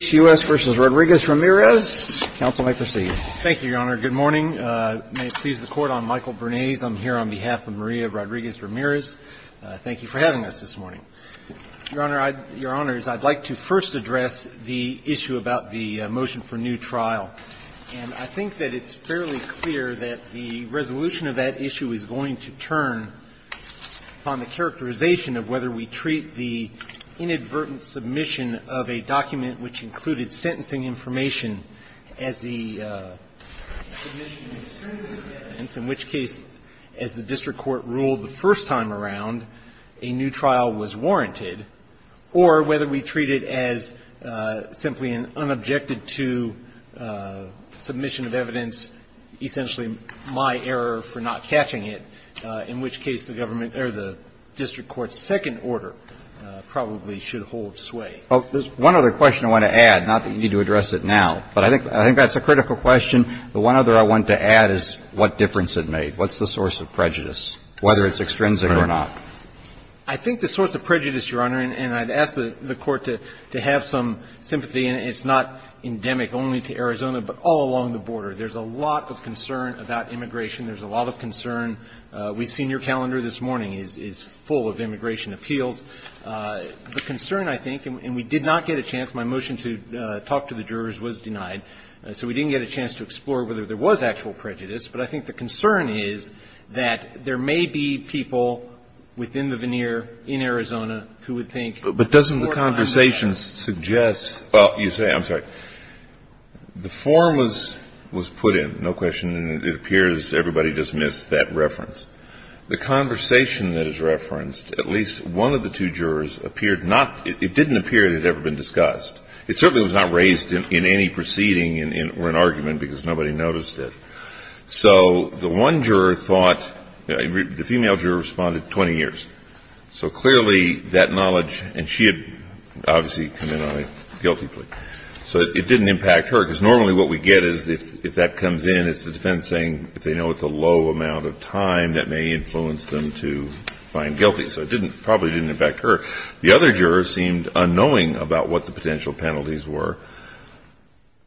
U.S. v. Rodriguez-Ramirez. Counsel may proceed. Thank you, Your Honor. Good morning. May it please the Court, I'm Michael Bernays. I'm here on behalf of Maria Rodriguez-Ramirez. Thank you for having us this morning. Your Honor, I'd — Your Honors, I'd like to first address the issue about the motion for new trial, and I think that it's fairly clear that the resolution of that issue is going to turn on the characterization of whether we treat the inadvertent submission of a document which included sentencing information as the submission of extrinsic evidence, in which case, as the district court ruled the first time around, a new trial was warranted, or whether we treat it as simply an unobjected to submission of evidence, essentially my error for not catching it, in which case the government — or the district court's second order probably should hold certain There's one other question I want to add, not that you need to address it now. But I think that's a critical question. The one other I want to add is what difference it made. What's the source of prejudice, whether it's extrinsic or not? I think the source of prejudice, Your Honor, and I'd ask the Court to have some sympathy, and it's not endemic only to Arizona, but all along the border. There's a lot of concern about immigration. There's a lot of concern. We've seen your calendar this morning is full of immigration appeals. The concern, I think, and we did not get a chance — my motion to talk to the jurors was denied, so we didn't get a chance to explore whether there was actual prejudice. But I think the concern is that there may be people within the veneer in Arizona who would think that the court might not have that. But doesn't the conversation suggest — well, you say — I'm sorry. The form was put in, no question, and it appears everybody dismissed that reference. The conversation that is referenced, at least one of the two jurors appeared not — it didn't appear it had ever been discussed. It certainly was not raised in any proceeding or in argument, because nobody noticed it. So the one juror thought — the female juror responded, 20 years. So clearly that knowledge — and she had obviously come in on a guilty plea. So it didn't impact her, because normally what we get is if that comes in, it's the low amount of time that may influence them to find guilty. So it didn't — probably didn't impact her. The other juror seemed unknowing about what the potential penalties were.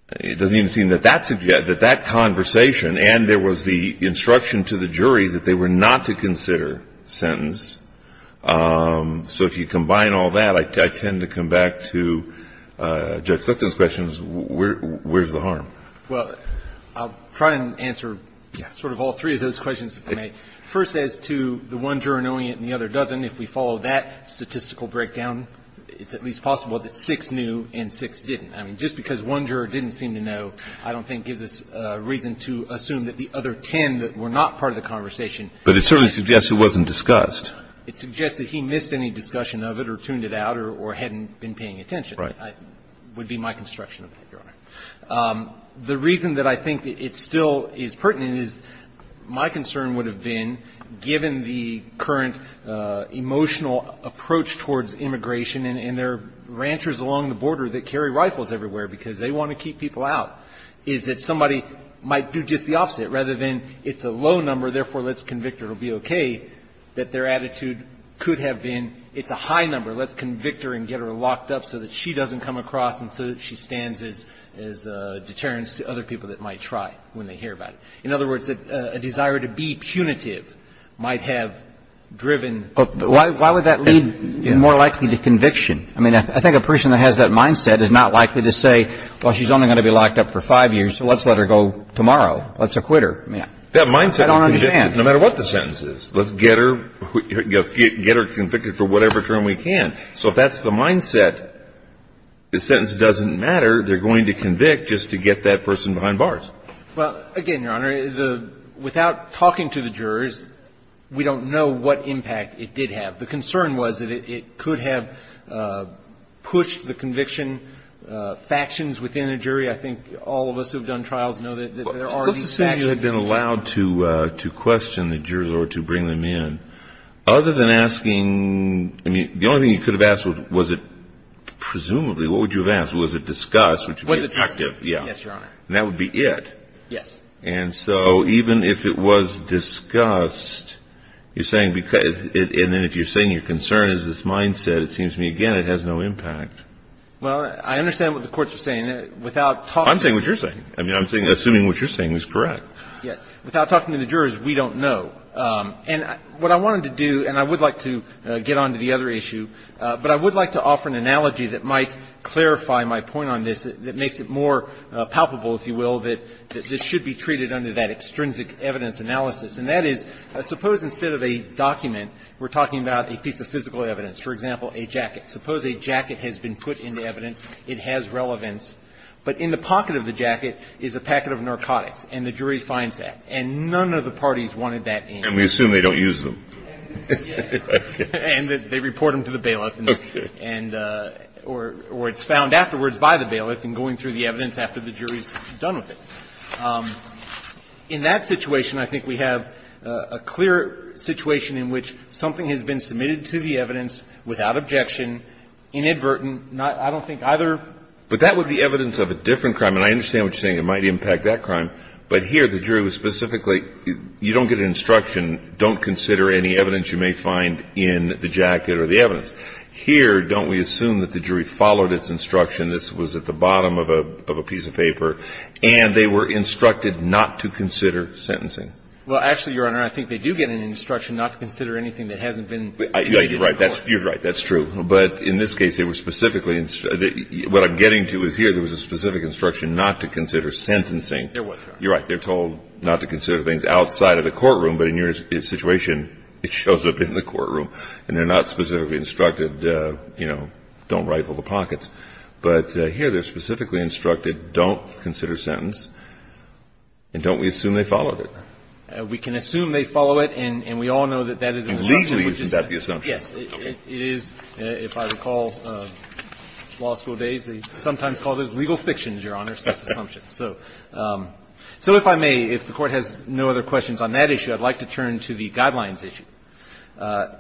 It doesn't even seem that that suggests — that that conversation, and there was the instruction to the jury that they were not to consider sentence. So if you combine all that, I tend to come back to Judge Sutton's questions, where's the harm? Well, I'll try and answer sort of all three of those questions, if I may. First, as to the one juror knowing it and the other doesn't, if we follow that statistical breakdown, it's at least possible that six knew and six didn't. I mean, just because one juror didn't seem to know, I don't think gives us reason to assume that the other ten that were not part of the conversation — But it certainly suggests it wasn't discussed. It suggests that he missed any discussion of it or tuned it out or hadn't been paying attention. Right. Would be my construction of that, Your Honor. The reason that I think it still is pertinent is my concern would have been, given the current emotional approach towards immigration and there are ranchers along the border that carry rifles everywhere because they want to keep people out, is that somebody might do just the opposite, rather than it's a low number, therefore let's convict her, it'll be okay, that their attitude could have been it's a high number, let's convict her and get her locked up so that she doesn't come across and so that she stands as a deterrence to other people that might try when they hear about it. In other words, a desire to be punitive might have driven — But why would that lead more likely to conviction? I mean, I think a person that has that mindset is not likely to say, well, she's only going to be locked up for five years, so let's let her go tomorrow, let's acquit her. I mean, I don't understand. That mindset of conviction, no matter what the sentence is, let's get her convicted for whatever term we can. So if that's the mindset, the sentence doesn't matter, they're going to convict just to get that person behind bars. Well, again, Your Honor, the — without talking to the jurors, we don't know what impact it did have. The concern was that it could have pushed the conviction factions within the jury. I think all of us who have done trials know that there are these factions that — Let's assume you had been allowed to question the jurors or to bring them in. Other than asking — I mean, the only thing you could have asked was, was it — presumably, what would you have asked? Was it discussed? Was it discussed? Yes, Your Honor. And that would be it. Yes. And so even if it was discussed, you're saying because — and then if you're saying your concern is this mindset, it seems to me, again, it has no impact. Well, I understand what the courts are saying. Without talking — I'm saying what you're saying. I mean, I'm assuming what you're saying is correct. Yes. Without talking to the jurors, we don't know. And what I wanted to do, and I would like to get on to the other issue, but I would like to offer an analogy that might clarify my point on this, that makes it more palpable, if you will, that this should be treated under that extrinsic evidence analysis. And that is, suppose instead of a document, we're talking about a piece of physical evidence, for example, a jacket. Suppose a jacket has been put into evidence. It has relevance. But in the pocket of the jacket is a packet of narcotics, and the jury finds that. And none of the parties wanted that in. And we assume they don't use them. And they report them to the bailiff, or it's found afterwards by the bailiff in going through the evidence after the jury's done with it. In that situation, I think we have a clear situation in which something has been submitted to the evidence without objection, inadvertent. I don't think either — But that would be evidence of a different crime. And I understand what you're saying. It might impact that crime. But here, the jury was specifically — you don't get an instruction, don't consider any evidence you may find in the jacket or the evidence. Here, don't we assume that the jury followed its instruction? This was at the bottom of a piece of paper. And they were instructed not to consider sentencing. Well, actually, Your Honor, I think they do get an instruction not to consider anything that hasn't been — You're right. You're right. That's true. But in this case, they were specifically — what I'm getting to is here, there was a specific instruction not to consider sentencing. There was, Your Honor. You're right. They're told not to consider things outside of the courtroom. But in your situation, it shows up in the courtroom. And they're not specifically instructed, you know, don't rifle the pockets. But here, they're specifically instructed, don't consider sentence, and don't we assume they followed it? We can assume they follow it, and we all know that that is an assumption. And legally, is that the assumption? Yes. It is. If I recall, law school days, they sometimes called those legal fictions, Your Honor, such assumptions. So if I may, if the Court has no other questions on that issue, I'd like to turn to the guidelines issue.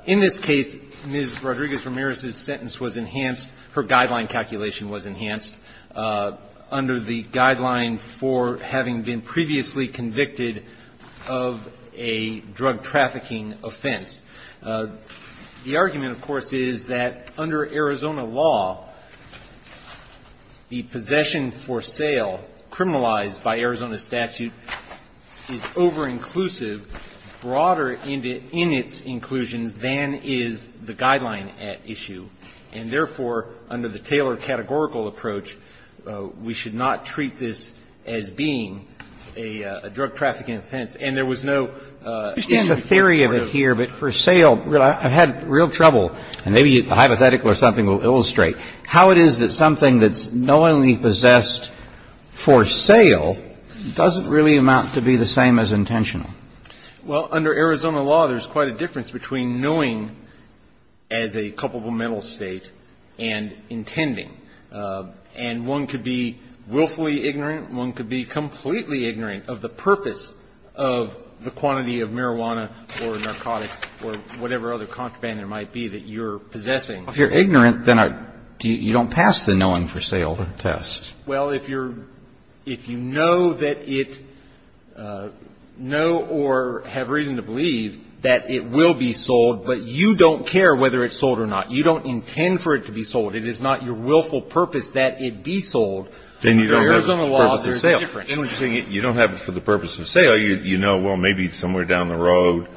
In this case, Ms. Rodriguez-Ramirez's sentence was enhanced — her guideline calculation was enhanced under the guideline for having been previously convicted of a drug trafficking offense. The argument, of course, is that under Arizona law, the possession for sale criminalized by Arizona statute is over-inclusive, broader in its inclusions than is the guideline at issue. And therefore, under the Taylor categorical approach, we should not treat this as being a drug trafficking offense. And there was no end to that. And I'm not going to go into the details of that here, but for sale — I've had real trouble, and maybe a hypothetical or something will illustrate how it is that something that's knowingly possessed for sale doesn't really amount to be the same as intentional. Well, under Arizona law, there's quite a difference between knowing as a culpable mental state and intending. And one could be willfully ignorant, one could be completely ignorant of the purpose of the quantity of marijuana or narcotics or whatever other contraband there might be that you're possessing. Well, if you're ignorant, then I — you don't pass the knowing for sale test. Well, if you're — if you know that it — know or have reason to believe that it will be sold, but you don't care whether it's sold or not, you don't intend for it to be sold, then you don't have the purpose of sale. Then you don't have the purpose of sale. Then what you're saying is you don't have it for the purpose of sale. You know, well, maybe somewhere down the road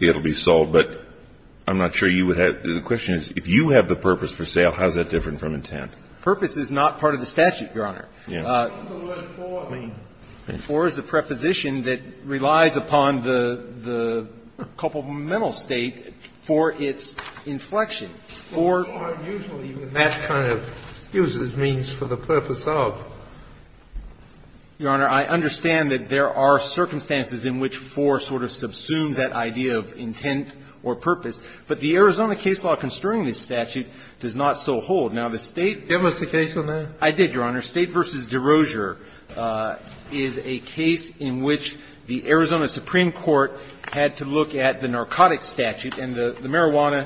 it will be sold. But I'm not sure you would have — the question is, if you have the purpose for sale, how is that different from intent? Purpose is not part of the statute, Your Honor. Yeah. What does the word for mean? For is a preposition that relies upon the — the culpable mental state for its inflection. For usually, that kind of uses means for the purpose of. Your Honor, I understand that there are circumstances in which for sort of subsumes that idea of intent or purpose. But the Arizona case law constraining this statute does not so hold. Now, the State — Give us a case on that. I did, Your Honor. State v. Derosure is a case in which the Arizona Supreme Court had to look at the narcotic drugs, which is LSDs,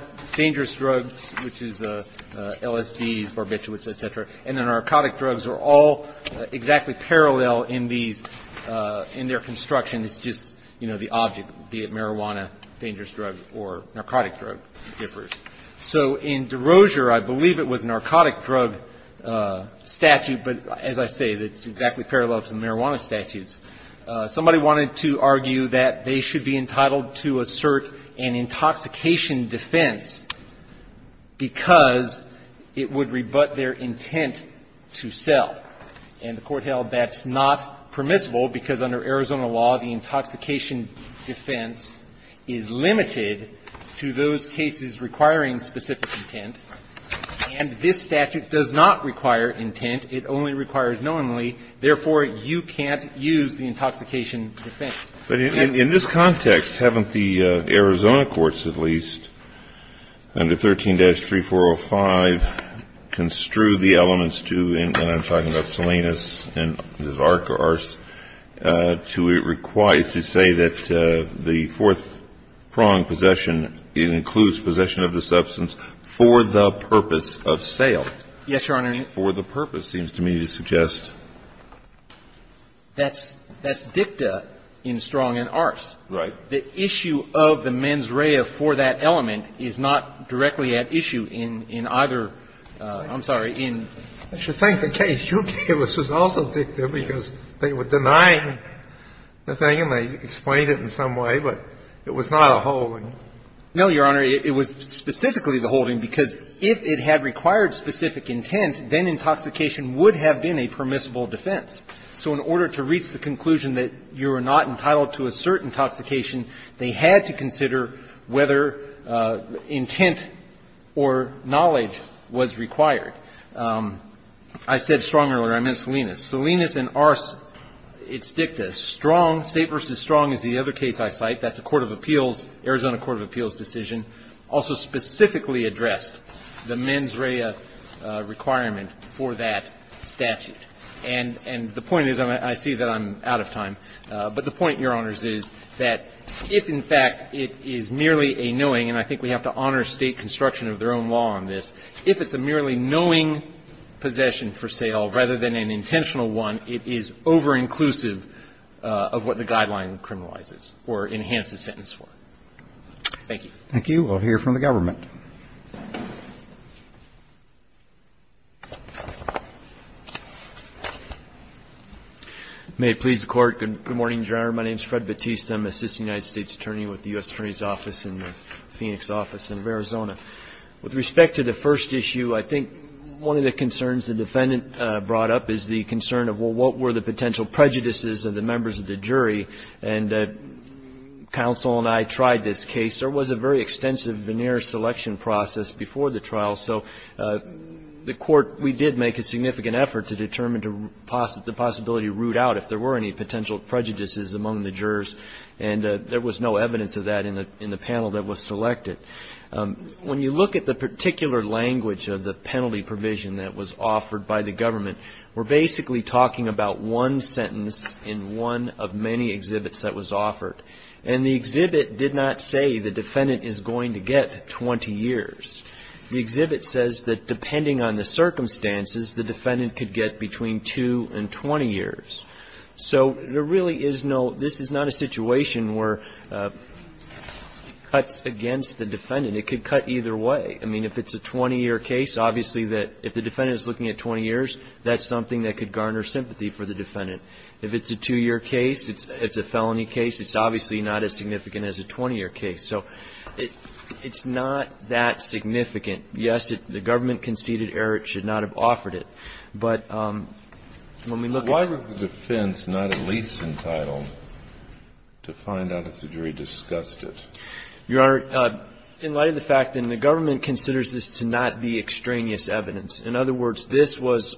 barbiturates, et cetera, and the narcotic drugs are all exactly parallel in these — in their construction. It's just, you know, the object, be it marijuana, dangerous drug, or narcotic drug differs. So in Derosure, I believe it was narcotic drug statute, but as I say, it's exactly parallel to the marijuana statutes. Somebody wanted to argue that they should be entitled to assert an intoxication defense because it would rebut their intent to sell. And the Court held that's not permissible because under Arizona law, the intoxication defense is limited to those cases requiring specific intent, and this statute does not require intent. It only requires knowingly. Therefore, you can't use the intoxication defense. But in this context, haven't the Arizona courts, at least, under 13-3405, construed the elements to — and I'm talking about Salinas and Zarka — to say that the fourth prong possession includes possession of the substance for the purpose of sale? Yes, Your Honor. For the purpose, seems to me to suggest. That's — that's dicta in Strong and Arce. Right. The issue of the mens rea for that element is not directly at issue in either — I'm sorry, in — I should think the case you gave us was also dicta because they were denying the thing and they explained it in some way, but it was not a holding. No, Your Honor. It was specifically the holding because if it had required specific intent, then it was not a permissible defense. So in order to reach the conclusion that you are not entitled to a certain intoxication, they had to consider whether intent or knowledge was required. I said Strong earlier. I meant Salinas. Salinas and Arce, it's dicta. Strong, State v. Strong is the other case I cite. That's a court of appeals, Arizona court of appeals decision, also specifically addressed the mens rea requirement for that statute. And the point is, I see that I'm out of time, but the point, Your Honors, is that if, in fact, it is merely a knowing, and I think we have to honor State construction of their own law on this, if it's a merely knowing possession for sale rather than an intentional one, it is over-inclusive of what the guideline criminalizes or enhances sentence for. Thank you. Thank you. We'll hear from the government. May it please the Court. Good morning, Your Honor. My name is Fred Battista. I'm an assistant United States attorney with the U.S. Attorney's Office in the Phoenix office in Arizona. With respect to the first issue, I think one of the concerns the defendant brought up is the concern of, well, what were the potential prejudices of the members of the jury? And counsel and I tried this case. There was a very extensive veneer selection process before the trial. So the Court, we did make a significant effort to determine the possibility to root out if there were any potential prejudices among the jurors. And there was no evidence of that in the panel that was selected. When you look at the particular language of the penalty provision that was offered by the government, we're basically talking about one sentence in one of many exhibits that was offered. And the exhibit did not say the defendant is going to get 20 years. The exhibit says that depending on the circumstances, the defendant could get between 2 and 20 years. So there really is no, this is not a situation where it cuts against the defendant. It could cut either way. I mean, if it's a 20-year case, obviously that if the defendant is looking at 20 years, that's something that could garner sympathy for the defendant. If it's a two-year case, it's a felony case, it's obviously not as significant as a 20-year case. So it's not that significant. Yes, the government conceded error. It should not have offered it. But when we look at the defense, not at least entitled to find out if the jury discussed it. Your Honor, in light of the fact that the government considers this to not be extraneous evidence, in other words, this was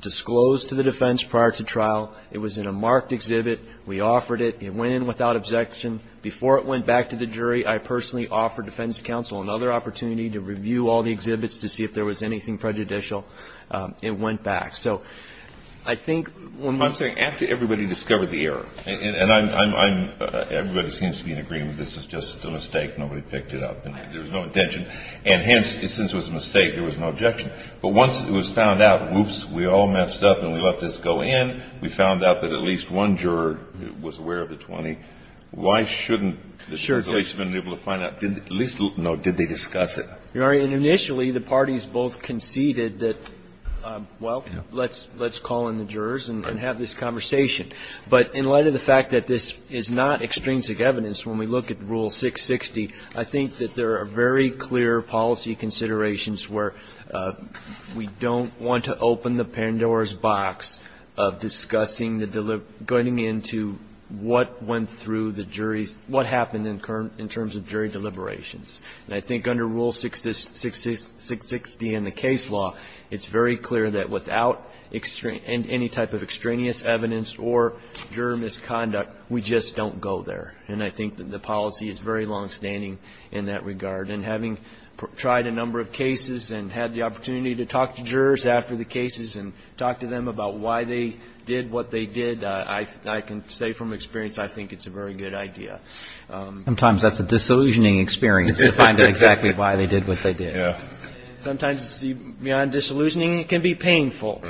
disclosed to the defense prior to trial. It was in a marked exhibit. We offered it. It went in without objection. Before it went back to the jury, I personally offered defense counsel another opportunity to review all the exhibits to see if there was anything prejudicial. It went back. So I think when we're saying after everybody discovered the error. And I'm, everybody seems to be in agreement. This is just a mistake. Nobody picked it up and there was no intention. And hence, since it was a mistake, there was no objection. But once it was found out, whoops, we all messed up and we let this go in. We found out that at least one juror was aware of the 20. Why shouldn't the judge at least have been able to find out, at least, no, did they discuss it? Your Honor, initially, the parties both conceded that, well, let's call in the jurors and have this conversation. But in light of the fact that this is not extrinsic evidence, when we look at Rule 660, I think that there are very clear policy considerations where we don't want to discuss going into what went through the jury, what happened in terms of jury deliberations. And I think under Rule 660 in the case law, it's very clear that without any type of extraneous evidence or juror misconduct, we just don't go there. And I think that the policy is very longstanding in that regard. And having tried a number of cases and had the opportunity to talk to jurors after the did what they did, I can say from experience, I think it's a very good idea. Sometimes that's a disillusioning experience to find out exactly why they did what they did. Sometimes beyond disillusioning, it can be painful.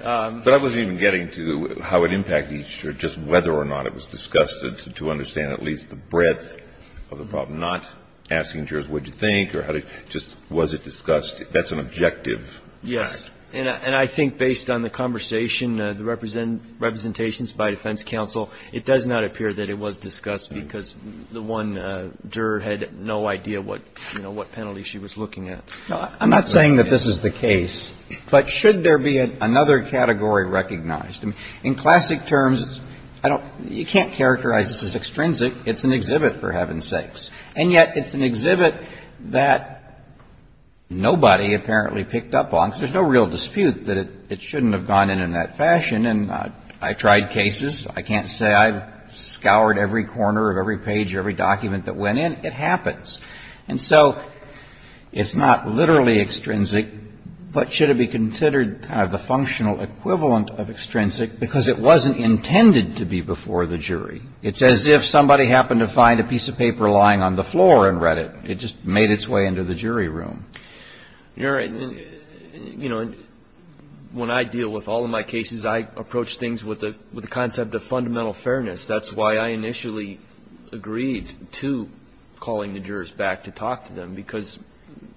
But I wasn't even getting to how it impacted each juror, just whether or not it was discussed, to understand at least the breadth of the problem, not asking jurors, what did you think, or how did you do it, just was it discussed? That's an objective. Yes. And I think based on the conversation, the representations by defense counsel, it does not appear that it was discussed because the one juror had no idea what, you know, what penalty she was looking at. I'm not saying that this is the case, but should there be another category recognized? In classic terms, I don't you can't characterize this as extrinsic. It's an exhibit, for heaven's sakes. And yet it's an exhibit that nobody apparently picked up on, because there's no real dispute that it shouldn't have gone in in that fashion. And I've tried cases. I can't say I've scoured every corner of every page of every document that went in. It happens. And so it's not literally extrinsic, but should it be considered kind of the functional equivalent of extrinsic, because it wasn't intended to be before the jury. It's as if somebody happened to find a piece of paper lying on the floor and read it. It just made its way into the jury room. You're right. You know, when I deal with all of my cases, I approach things with the concept of fundamental fairness. That's why I initially agreed to calling the jurors back to talk to them, because,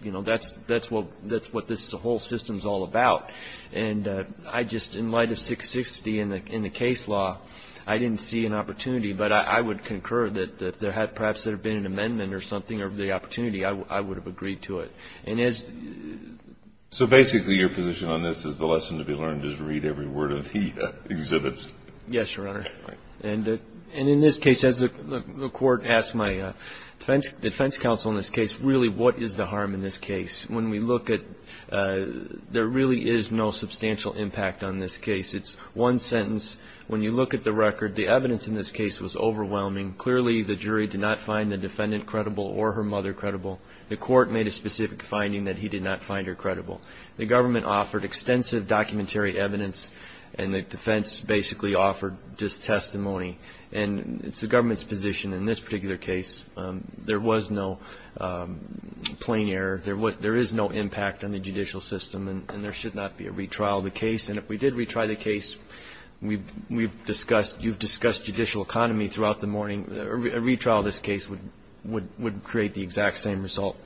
you know, that's what this whole system is all about. And I just, in light of 660 in the case law, I didn't see an opportunity. But I would concur that if there had perhaps there been an amendment or something or the opportunity, I would have agreed to it. And as So basically your position on this is the lesson to be learned is read every word of the exhibits. Yes, Your Honor. And in this case, as the court asked my defense counsel in this case, really, what is the harm in this case? When we look at, there really is no substantial impact on this case. It's one sentence. When you look at the record, the evidence in this case was overwhelming. Clearly, the jury did not find the defendant credible or her mother credible. The court made a specific finding that he did not find her credible. The government offered extensive documentary evidence, and the defense basically offered just testimony. And it's the government's position in this particular case, there was no plain error. There is no impact on the judicial system, and there should not be a retrial of the case. And if we did retry the case, we've discussed, you've discussed judicial economy throughout the morning, a retrial of this case would create the exact same result.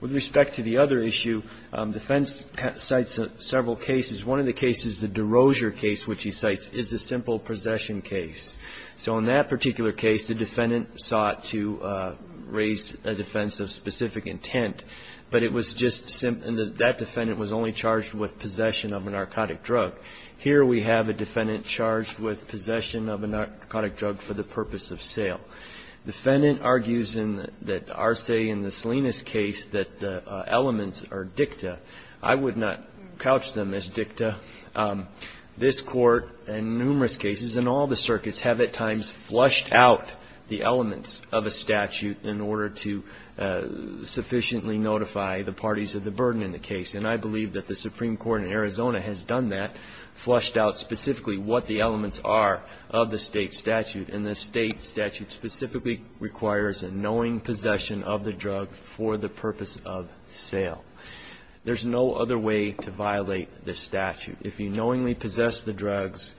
With respect to the other issue, defense cites several cases. One of the cases, the Derosier case, which he cites, is a simple possession case. So in that particular case, the defendant sought to raise a defense of specific intent, but it was just that defendant was only charged with possession of a narcotic drug. Here we have a defendant charged with possession of a narcotic drug for the purpose of sale. Defendant argues in the Arce and the Salinas case that the elements are dicta. I would not couch them as dicta. This Court, in numerous cases, in all the circuits, have at times flushed out the elements of a statute in order to sufficiently notify the parties of the burden in the case. And I believe that the Supreme Court in Arizona has done that, flushed out specifically what the elements are of the state statute. And the state statute specifically requires a knowing possession of the drug for the purpose of sale. There's no other way to violate this statute. If you knowingly possess the drugs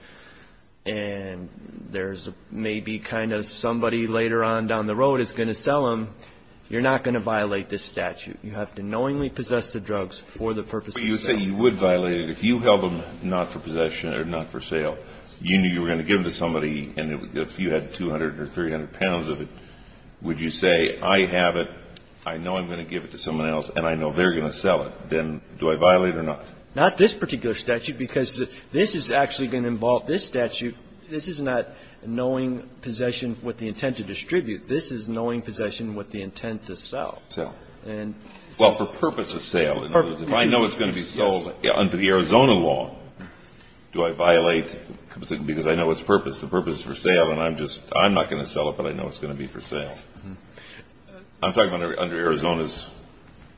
and there's maybe kind of somebody later on down the road is going to sell them, you're not going to violate this statute. You have to knowingly possess the drugs for the purpose of sale. But you say you would violate it if you held them not for possession or not for sale. You knew you were going to give them to somebody and if you had 200 or 300 pounds of it, would you say, I have it, I know I'm going to give it to someone else and I know they're going to sell it, then do I violate it or not? Not this particular statute because this is actually going to involve this statute. This is not knowing possession with the intent to distribute. This is knowing possession with the intent to sell. Sell. And Well, for purpose of sale. Purpose of sale. If I know it's going to be sold under the Arizona law, do I violate because I know it's purpose. The purpose is for sale and I'm just, I'm not going to sell it, but I know it's going to be for sale. I'm talking about under Arizona's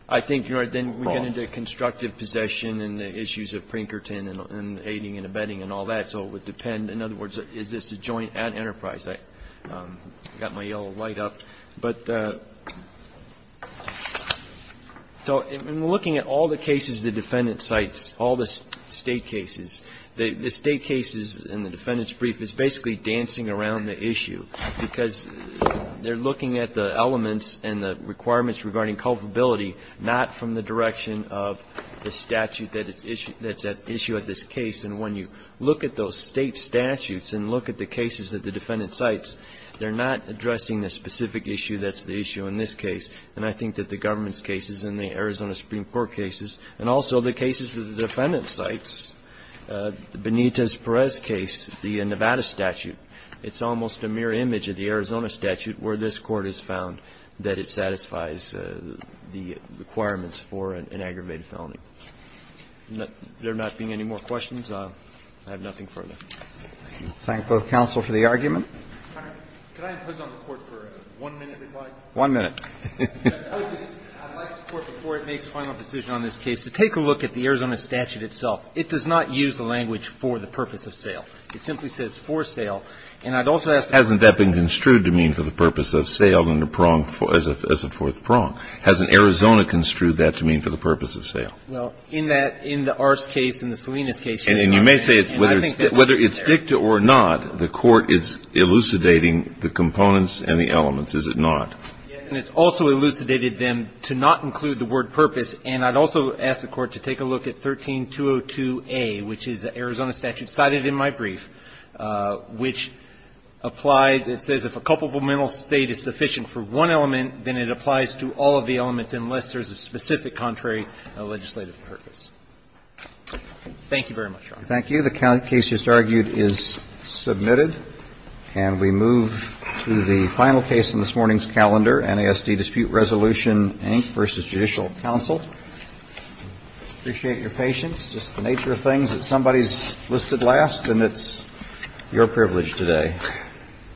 I think, Your Honor, then we get into constructive possession and the issues of Prinkerton and aiding and abetting and all that. So it would depend. In other words, is this a joint enterprise? I got my yellow light up. But so in looking at all the cases, the defendant cites all the state cases, the state cases in the defendant's brief is basically dancing around the issue because they're looking at the elements and the requirements regarding culpability, not from the direction of the statute that's at issue at this case. And when you look at those state statutes and look at the cases that the defendant cites, they're not addressing the specific issue that's the issue in this case. And I think that the government's cases and the Arizona Supreme Court cases and also the cases that the defendant cites, Benitez-Perez case, the Nevada statute, it's almost a mirror image of the Arizona statute where this Court has found that it satisfies the requirements for an aggravated felony. There not being any more questions, I have nothing further. Thank both counsel for the argument. One minute. I'd like the Court before it makes a final decision on this case to take a look at the Arizona statute itself. It does not use the language for the purpose of sale. It simply says for sale. And I'd also ask the Court to look at the Arizona statute as a fourth prong. Hasn't Arizona construed that to mean for the purpose of sale? Well, in that, in the Arce case, in the Salinas case. And you may say whether it's dicta or not, the Court is elucidating the components and the elements, is it not? Yes. And it's also elucidated them to not include the word purpose. And I'd also ask the Court to take a look at 13-202A, which is the Arizona statute cited in my brief, which applies. It says if a culpable mental state is sufficient for one element, then it applies to all of the elements unless there's a specific contrary legislative purpose. Thank you very much, Your Honor. Thank you. The case just argued is submitted. And we move to the final case in this morning's calendar, NASD Dispute Resolution Inc. v. Judicial Counsel. Appreciate your patience. It's just the nature of things that somebody's listed last, and it's your privilege today.